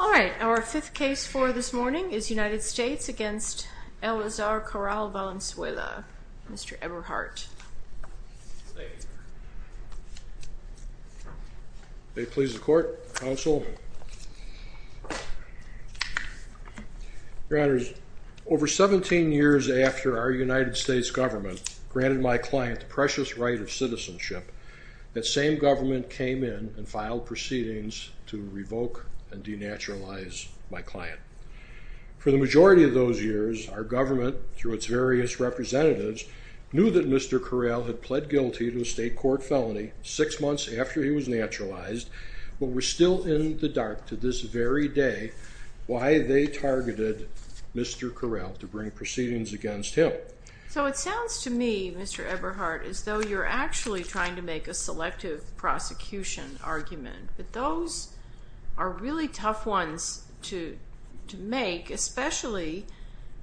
All right, our fifth case for this morning is United States v. Eleazar Corral Valenzuela. Mr. Eberhardt. May it please the Court, Counsel. Your Honors, over 17 years after our United States government granted my client the precious right of citizenship, that same government came in and filed proceedings to revoke and denaturalize my client. For the majority of those years, our government, through its various representatives, knew that Mr. Corral had pled guilty to a state court felony six months after he was naturalized, but we're still in the dark to this very day why they targeted Mr. Corral to bring proceedings against him. So it sounds to me, Mr. Eberhardt, as though you're actually trying to make a selective prosecution argument. But those are really tough ones to make, especially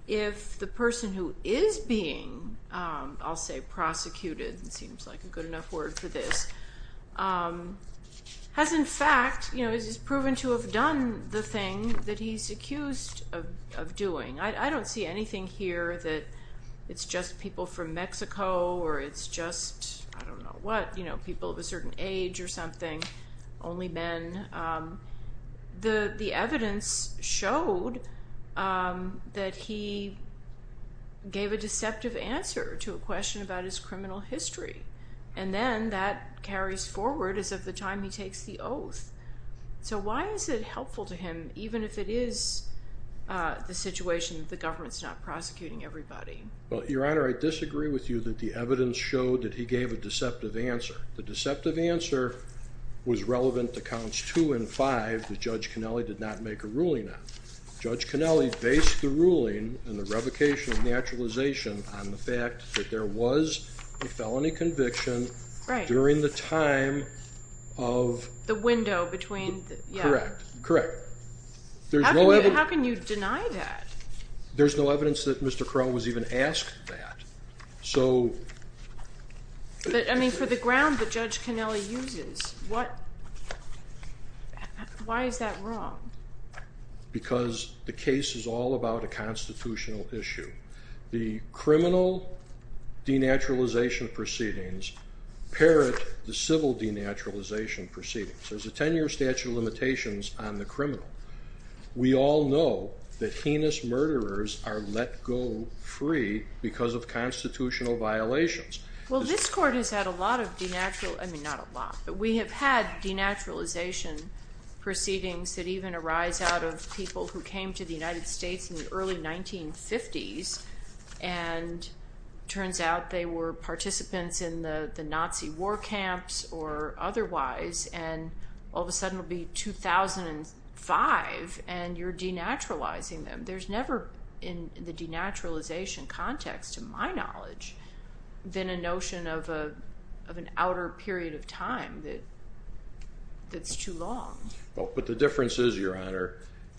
if the person who is being, I'll say, prosecuted, seems like a good enough word for this, has in fact proven to have done the thing that he's accused of doing. I don't see anything here that it's just people from Mexico or it's just, I don't know what, people of a certain age or something. Only men. The evidence showed that he gave a deceptive answer to a question about his criminal history, and then that carries forward as of the time he takes the oath. So why is it helpful to him, even if it is the situation that the government's not prosecuting everybody? Well, Your Honor, I disagree with you that the evidence showed that he gave a deceptive answer. The deceptive answer was relevant to Counts 2 and 5 that Judge Cannelli did not make a ruling on. Judge Cannelli based the ruling in the revocation of naturalization on the fact that there was a felony conviction during the time of... The window between... Correct. Correct. How can you deny that? There's no evidence that Mr. Corral was even asked that. So... I mean, for the ground that Judge Cannelli uses, what... Why is that wrong? Because the case is all about a constitutional issue. The criminal denaturalization proceedings parrot the civil denaturalization proceedings. There's a 10-year statute of limitations on the criminal. We all know that heinous murderers are let go free because of constitutional violations. Well, this Court has had a lot of denatural... I mean, not a lot. But we have had denaturalization proceedings that even arise out of people who came to the United States in the early 1950s. And it turns out they were participants in the Nazi war camps or otherwise. And all of a sudden it will be 2005 and you're denaturalizing them. There's never in the denaturalization context, to my knowledge, been a notion of an outer period of time that's too long. But the difference is, Your Honor,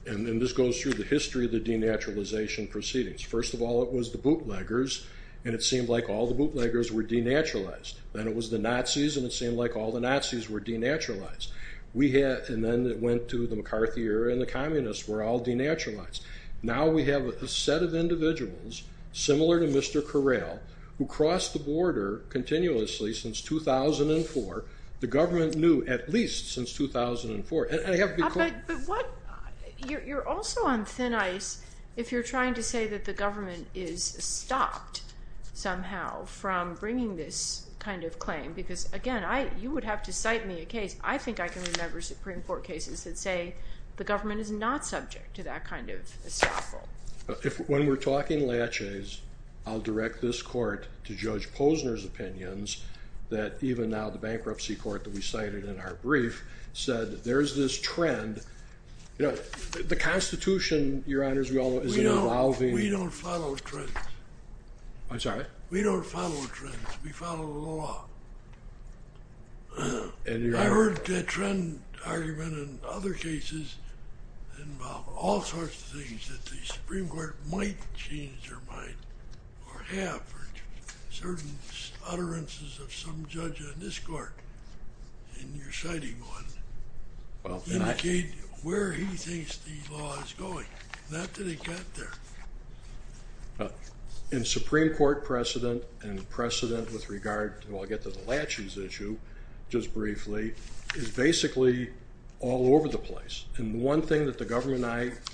and this goes through the history of the denaturalization proceedings. First of all, it was the bootleggers, and it seemed like all the bootleggers were denaturalized. Then it was the Nazis, and it seemed like all the Nazis were denaturalized. And then it went to the McCarthy era and the communists were all denaturalized. Now we have a set of individuals, similar to Mr. Correll, who crossed the border continuously since 2004. The government knew at least since 2004. You're also on thin ice if you're trying to say that the government is stopped somehow from bringing this kind of claim. Because, again, you would have to cite me a case. I think I can remember Supreme Court cases that say the government is not subject to that kind of estoppel. When we're talking laches, I'll direct this court to Judge Posner's opinions that even now the bankruptcy court that we cited in our brief said there's this trend. You know, the Constitution, Your Honor, is an allowing... We don't follow trends. I'm sorry? We don't follow trends. We follow the law. I heard that trend argument in other cases involve all sorts of things that the Supreme Court might change their mind or have. Certain utterances of some judge on this court, in your citing one, indicate where he thinks the law is going. Not that it got there. In Supreme Court precedent, and precedent with regard to, I'll get to the laches issue just briefly, is basically all over the place. And one thing that the government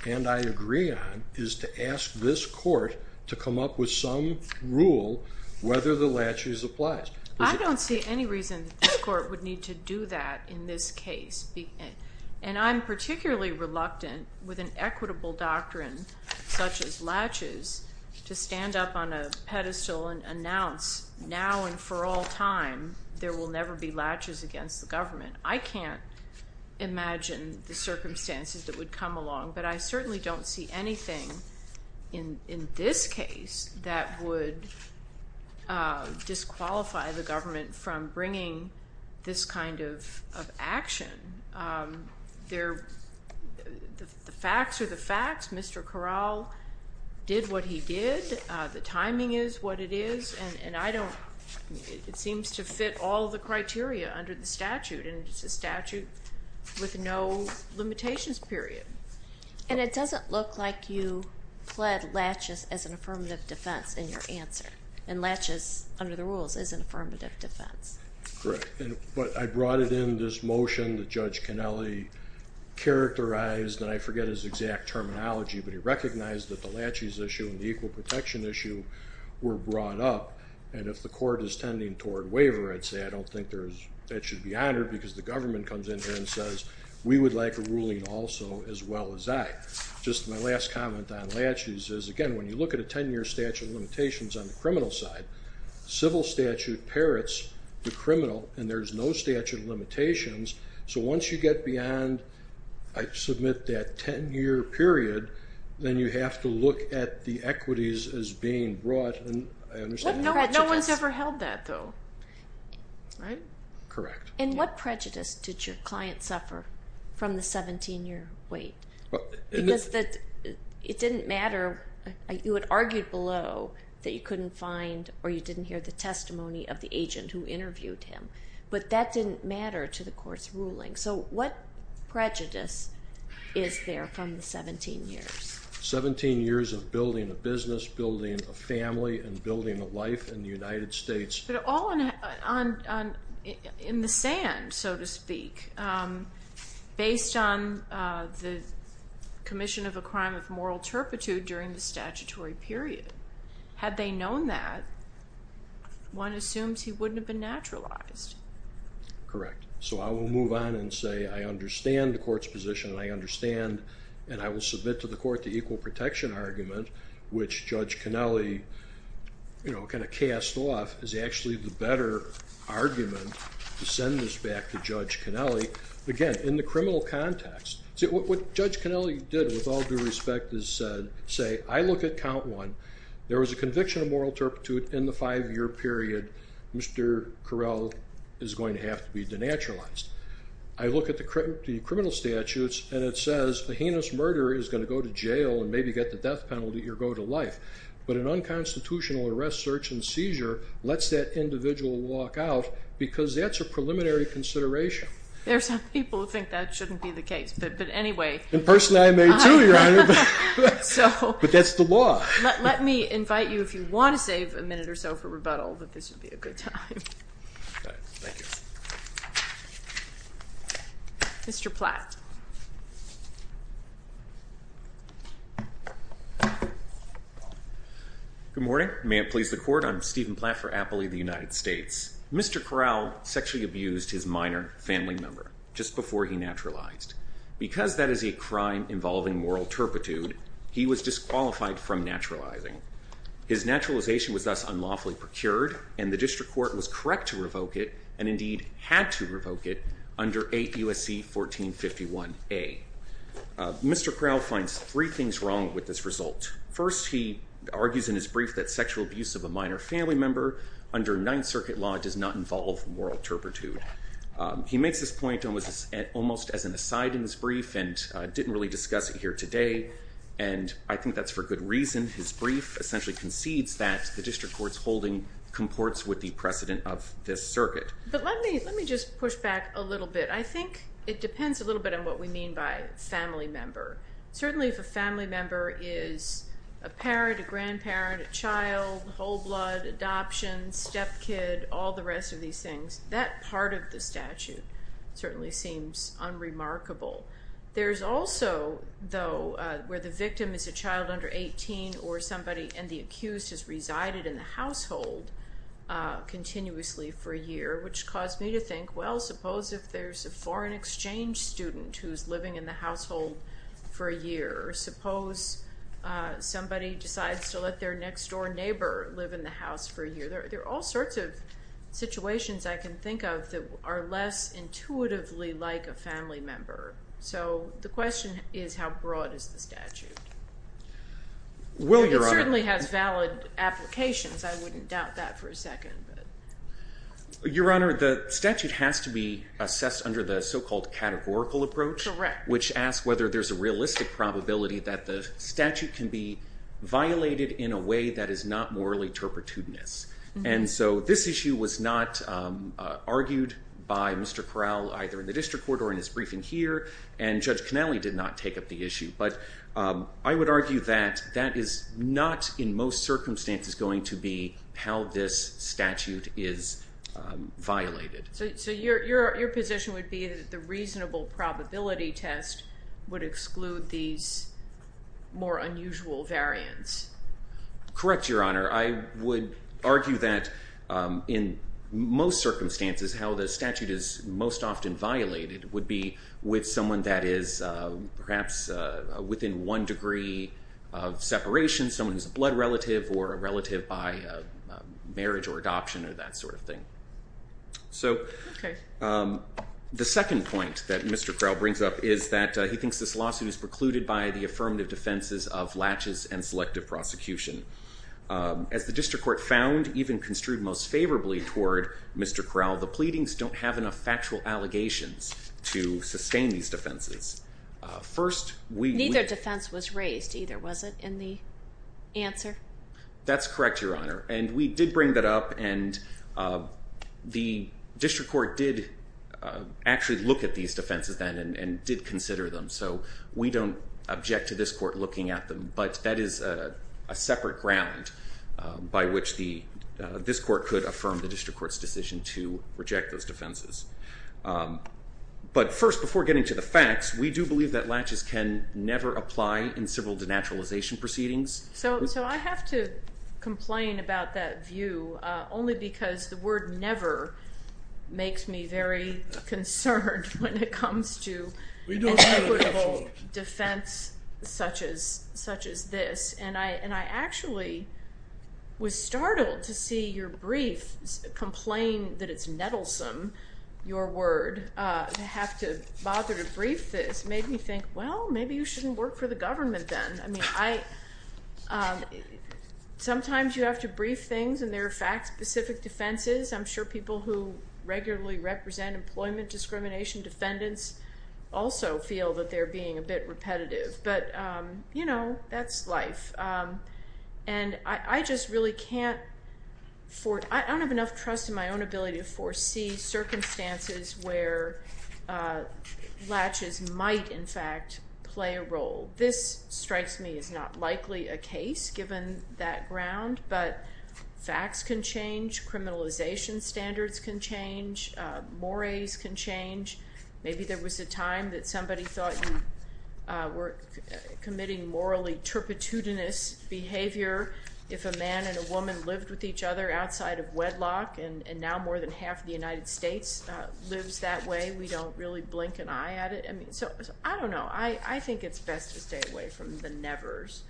and I agree on is to ask this court to come up with some rule whether the laches applies. I don't see any reason that this court would need to do that in this case. And I'm particularly reluctant with an equitable doctrine such as laches to stand up on a pedestal and announce now and for all time there will never be laches against the government. I can't imagine the circumstances that would come along. But I certainly don't see anything in this case that would disqualify the government from bringing this kind of action. The facts are the facts. Mr. Corral did what he did. The timing is what it is. It seems to fit all the criteria under the statute. And it's a statute with no limitations, period. And it doesn't look like you pled laches as an affirmative defense in your answer. And laches, under the rules, is an affirmative defense. Correct. But I brought it in, this motion that Judge Kennelly characterized, and I forget his exact terminology, but he recognized that the laches issue and the equal protection issue were brought up. And if the court is tending toward waiver, I'd say I don't think that should be honored, because the government comes in here and says we would like a ruling also as well as I. Just my last comment on laches is, again, when you look at a 10-year statute of limitations on the criminal side, civil statute parrots the criminal, and there's no statute of limitations. So once you get beyond, I submit, that 10-year period, then you have to look at the equities as being brought. No one's ever held that, though, right? Correct. And what prejudice did your client suffer from the 17-year wait? Because it didn't matter. You had argued below that you couldn't find or you didn't hear the testimony of the agent who interviewed him. But that didn't matter to the court's ruling. So what prejudice is there from the 17 years? Seventeen years of building a business, building a family, and building a life in the United States. But all in the sand, so to speak, based on the commission of a crime of moral turpitude during the statutory period. Had they known that, one assumes he wouldn't have been naturalized. Correct. So I will move on and say I understand the court's position, and I understand, and I will submit to the court the equal protection argument, which Judge Cannelli kind of cast off as actually the better argument to send this back to Judge Cannelli. Again, in the criminal context, what Judge Cannelli did, with all due respect, is say, I look at count one. There was a conviction of moral turpitude in the five-year period. Mr. Correll is going to have to be denaturalized. I look at the criminal statutes, and it says a heinous murder is going to go to jail and maybe get the death penalty or go to life. But an unconstitutional arrest, search, and seizure lets that individual walk out because that's a preliminary consideration. There are some people who think that shouldn't be the case, but anyway. And personally, I may too, Your Honor. But that's the law. Let me invite you, if you want to save a minute or so for rebuttal, that this would be a good time. Thank you. Mr. Platt. Good morning. May it please the court, I'm Stephen Platt for Appley of the United States. Mr. Correll sexually abused his minor family member just before he naturalized. Because that is a crime involving moral turpitude, he was disqualified from naturalizing. His naturalization was thus unlawfully procured, and the district court was correct to revoke it and indeed had to revoke it under 8 U.S.C. 1451A. Mr. Correll finds three things wrong with this result. First, he argues in his brief that sexual abuse of a minor family member under Ninth Circuit law does not involve moral turpitude. He makes this point almost as an aside in his brief and didn't really discuss it here today. And I think that's for good reason. His brief essentially concedes that the district court's holding comports with the precedent of this circuit. But let me just push back a little bit. I think it depends a little bit on what we mean by family member. Certainly if a family member is a parent, a grandparent, a child, whole blood, adoption, stepkid, all the rest of these things, that part of the statute certainly seems unremarkable. There's also, though, where the victim is a child under 18 or somebody and the accused has resided in the household continuously for a year, which caused me to think, well, suppose if there's a foreign exchange student who's living in the household for a year. Suppose somebody decides to let their next-door neighbor live in the house for a year. There are all sorts of situations I can think of that are less intuitively like a family member. So the question is how broad is the statute? It certainly has valid applications. I wouldn't doubt that for a second. Your Honor, the statute has to be assessed under the so-called categorical approach, which asks whether there's a realistic probability that the statute can be violated in a way that is not morally turpitudinous. And so this issue was not argued by Mr. Corral either in the district court or in his briefing here, and Judge Connelly did not take up the issue. But I would argue that that is not in most circumstances going to be how this statute is violated. So your position would be that the reasonable probability test would exclude these more unusual variants? Correct, Your Honor. I would argue that in most circumstances how the statute is most often violated would be with someone that is perhaps within one degree of separation, someone who's a blood relative or a relative by marriage or adoption or that sort of thing. So the second point that Mr. Corral brings up is that he thinks this lawsuit is precluded by the affirmative defenses of latches and selective prosecution. As the district court found, even construed most favorably toward Mr. Corral, the pleadings don't have enough factual allegations to sustain these defenses. Neither defense was raised either, was it, in the answer? That's correct, Your Honor. And we did bring that up, and the district court did actually look at these defenses then and did consider them. So we don't object to this court looking at them, but that is a separate ground by which this court could affirm the district court's decision to reject those defenses. But first, before getting to the facts, we do believe that latches can never apply in civil denaturalization proceedings. So I have to complain about that view only because the word never makes me very concerned when it comes to equitable defense such as this. And I actually was startled to see your brief complain that it's nettlesome, your word, to have to bother to brief this. It made me think, well, maybe you shouldn't work for the government then. I mean, sometimes you have to brief things, and there are fact-specific defenses. I'm sure people who regularly represent employment discrimination defendants also feel that they're being a bit repetitive. But, you know, that's life. And I just really can't – I don't have enough trust in my own ability to foresee circumstances Well, this, strikes me, is not likely a case given that ground. But facts can change, criminalization standards can change, mores can change. Maybe there was a time that somebody thought you were committing morally turpitudinous behavior. If a man and a woman lived with each other outside of wedlock, and now more than half of the United States lives that way, we don't really blink an eye at it. So, I don't know. I think it's best to stay away from the nevers.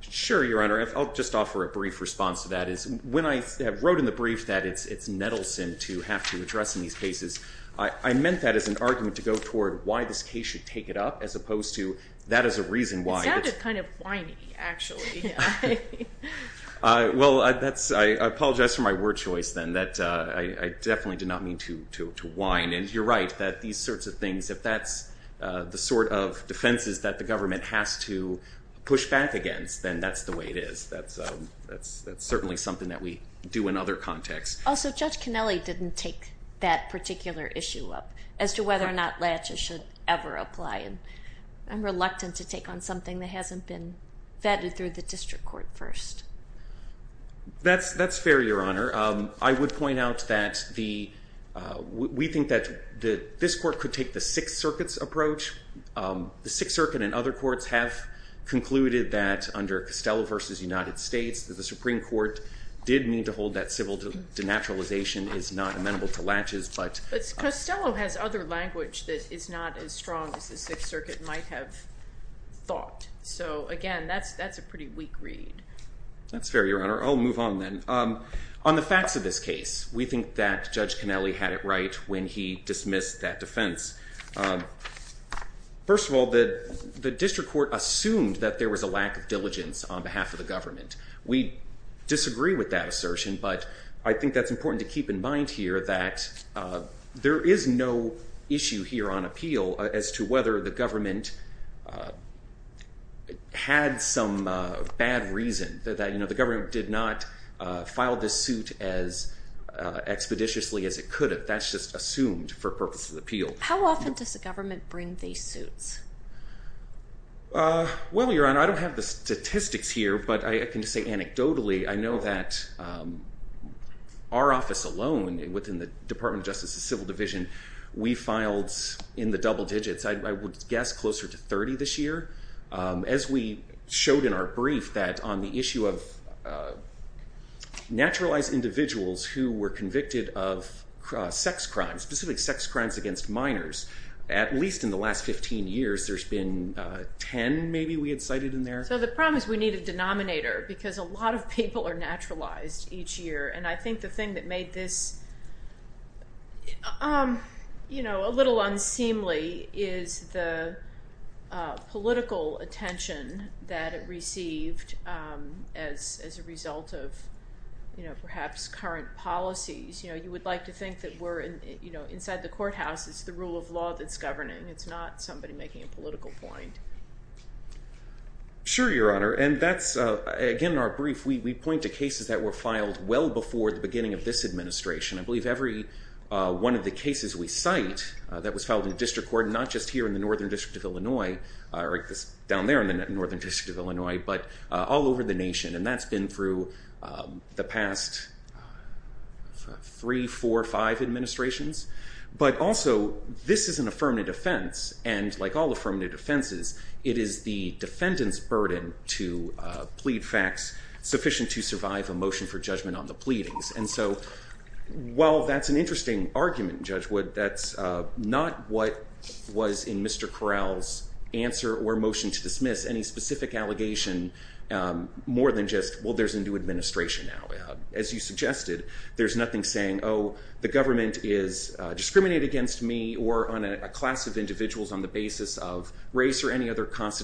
Sure, Your Honor. I'll just offer a brief response to that. When I wrote in the brief that it's nettlesome to have to address in these cases, I meant that as an argument to go toward why this case should take it up, as opposed to, that is a reason why. It sounded kind of whiny, actually. Well, I apologize for my word choice then. I definitely did not mean to whine. And you're right, that these sorts of things, if that's the sort of defenses that the government has to push back against, then that's the way it is. That's certainly something that we do in other contexts. Also, Judge Canelli didn't take that particular issue up, as to whether or not latches should ever apply. I'm reluctant to take on something that hasn't been vetted through the district court first. That's fair, Your Honor. I would point out that we think that this court could take the Sixth Circuit's approach. The Sixth Circuit and other courts have concluded that, under Costello v. United States, that the Supreme Court did mean to hold that civil denaturalization is not amenable to latches. But Costello has other language that is not as strong as the Sixth Circuit might have thought. So, again, that's a pretty weak read. That's fair, Your Honor. I'll move on then. On the facts of this case, we think that Judge Canelli had it right when he dismissed that defense. First of all, the district court assumed that there was a lack of diligence on behalf of the government. We disagree with that assertion, but I think that's important to keep in mind here, that there is no issue here on appeal as to whether the government had some bad reason. The government did not file this suit as expeditiously as it could have. That's just assumed for purposes of appeal. How often does the government bring these suits? Well, Your Honor, I don't have the statistics here, but I can just say anecdotally, I know that our office alone, within the Department of Justice's Civil Division, we filed, in the double digits, I would guess closer to 30 this year. As we showed in our brief, that on the issue of naturalized individuals who were convicted of sex crimes, specifically sex crimes against minors, at least in the last 15 years, there's been 10 maybe we had cited in there. So the problem is we need a denominator because a lot of people are naturalized each year, and I think the thing that made this a little unseemly is the political attention that it received as a result of perhaps current policies. You would like to think that we're inside the courthouse. It's the rule of law that's governing. It's not somebody making a political point. Sure, Your Honor. And that's, again, in our brief, we point to cases that were filed well before the beginning of this administration. I believe every one of the cases we cite that was filed in the District Court, not just here in the Northern District of Illinois, down there in the Northern District of Illinois, but all over the nation, and that's been through the past three, four, five administrations. But also, this is an affirmative defense, and like all affirmative defenses, it is the defendant's burden to plead facts sufficient to survive a motion for judgment on the pleadings. And so while that's an interesting argument, Judge Wood, that's not what was in Mr. Corral's answer or motion to dismiss, any specific allegation more than just, well, there's a new administration now. As you suggested, there's nothing saying, oh, the government is discriminating against me or on a class of individuals on the basis of race or any other class that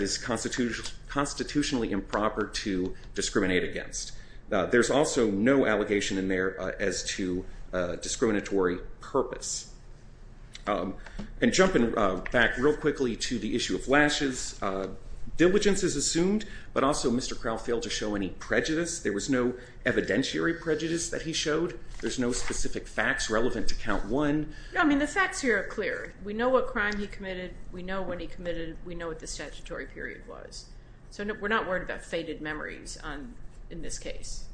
is constitutionally improper to discriminate against. There's also no allegation in there as to discriminatory purpose. And jumping back real quickly to the issue of lashes, diligence is assumed, but also Mr. Corral failed to show any prejudice. There was no evidentiary prejudice that he showed. There's no specific facts relevant to count one. No, I mean, the facts here are clear. We know what crime he committed. We know when he committed it. We know what the statutory period was. So we're not worried about fated memories in this case.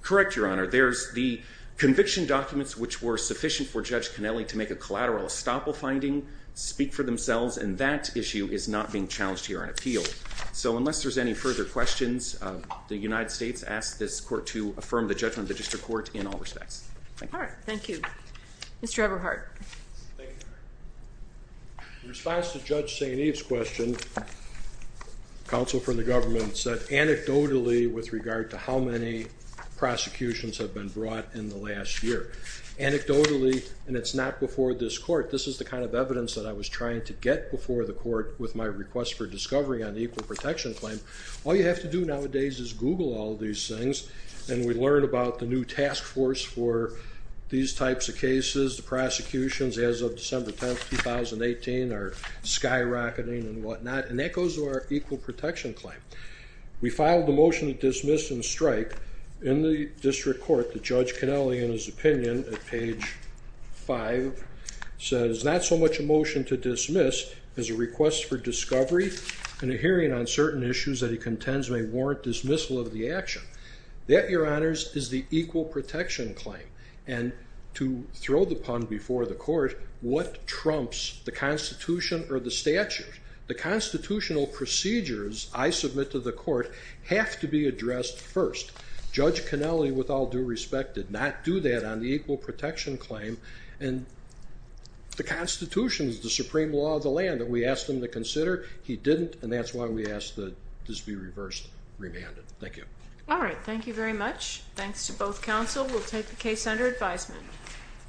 Correct, Your Honor. There's the conviction documents which were sufficient for Judge Connelly to make a collateral estoppel finding speak for themselves, and that issue is not being challenged here on appeal. So unless there's any further questions, the United States asks this court to affirm the judgment of the district court in all respects. All right. Thank you. Mr. Everhart. Thank you, Your Honor. In response to Judge St. Eve's question, counsel from the government said anecdotally with regard to how many prosecutions have been brought in the last year. Anecdotally, and it's not before this court, this is the kind of evidence that I was trying to get before the court with my request for discovery on the equal protection claim. All you have to do nowadays is Google all these things, and we learn about the new task force for these types of cases. The prosecutions as of December 10th, 2018 are skyrocketing and whatnot, and that goes to our equal protection claim. We filed a motion to dismiss and strike in the district court that Judge Connelly in his opinion at page 5 says, not so much a motion to dismiss as a request for discovery and a hearing on certain issues that he contends may warrant dismissal of the action. That, Your Honors, is the equal protection claim, and to throw the pun before the court, what trumps the Constitution or the statute? The constitutional procedures I submit to the court have to be addressed first. Judge Connelly, with all due respect, did not do that on the equal protection claim. And the Constitution is the supreme law of the land that we asked him to consider. He didn't, and that's why we asked this be reversed, remanded. Thank you. All right, thank you very much. Thanks to both counsel. We'll take the case under advisement.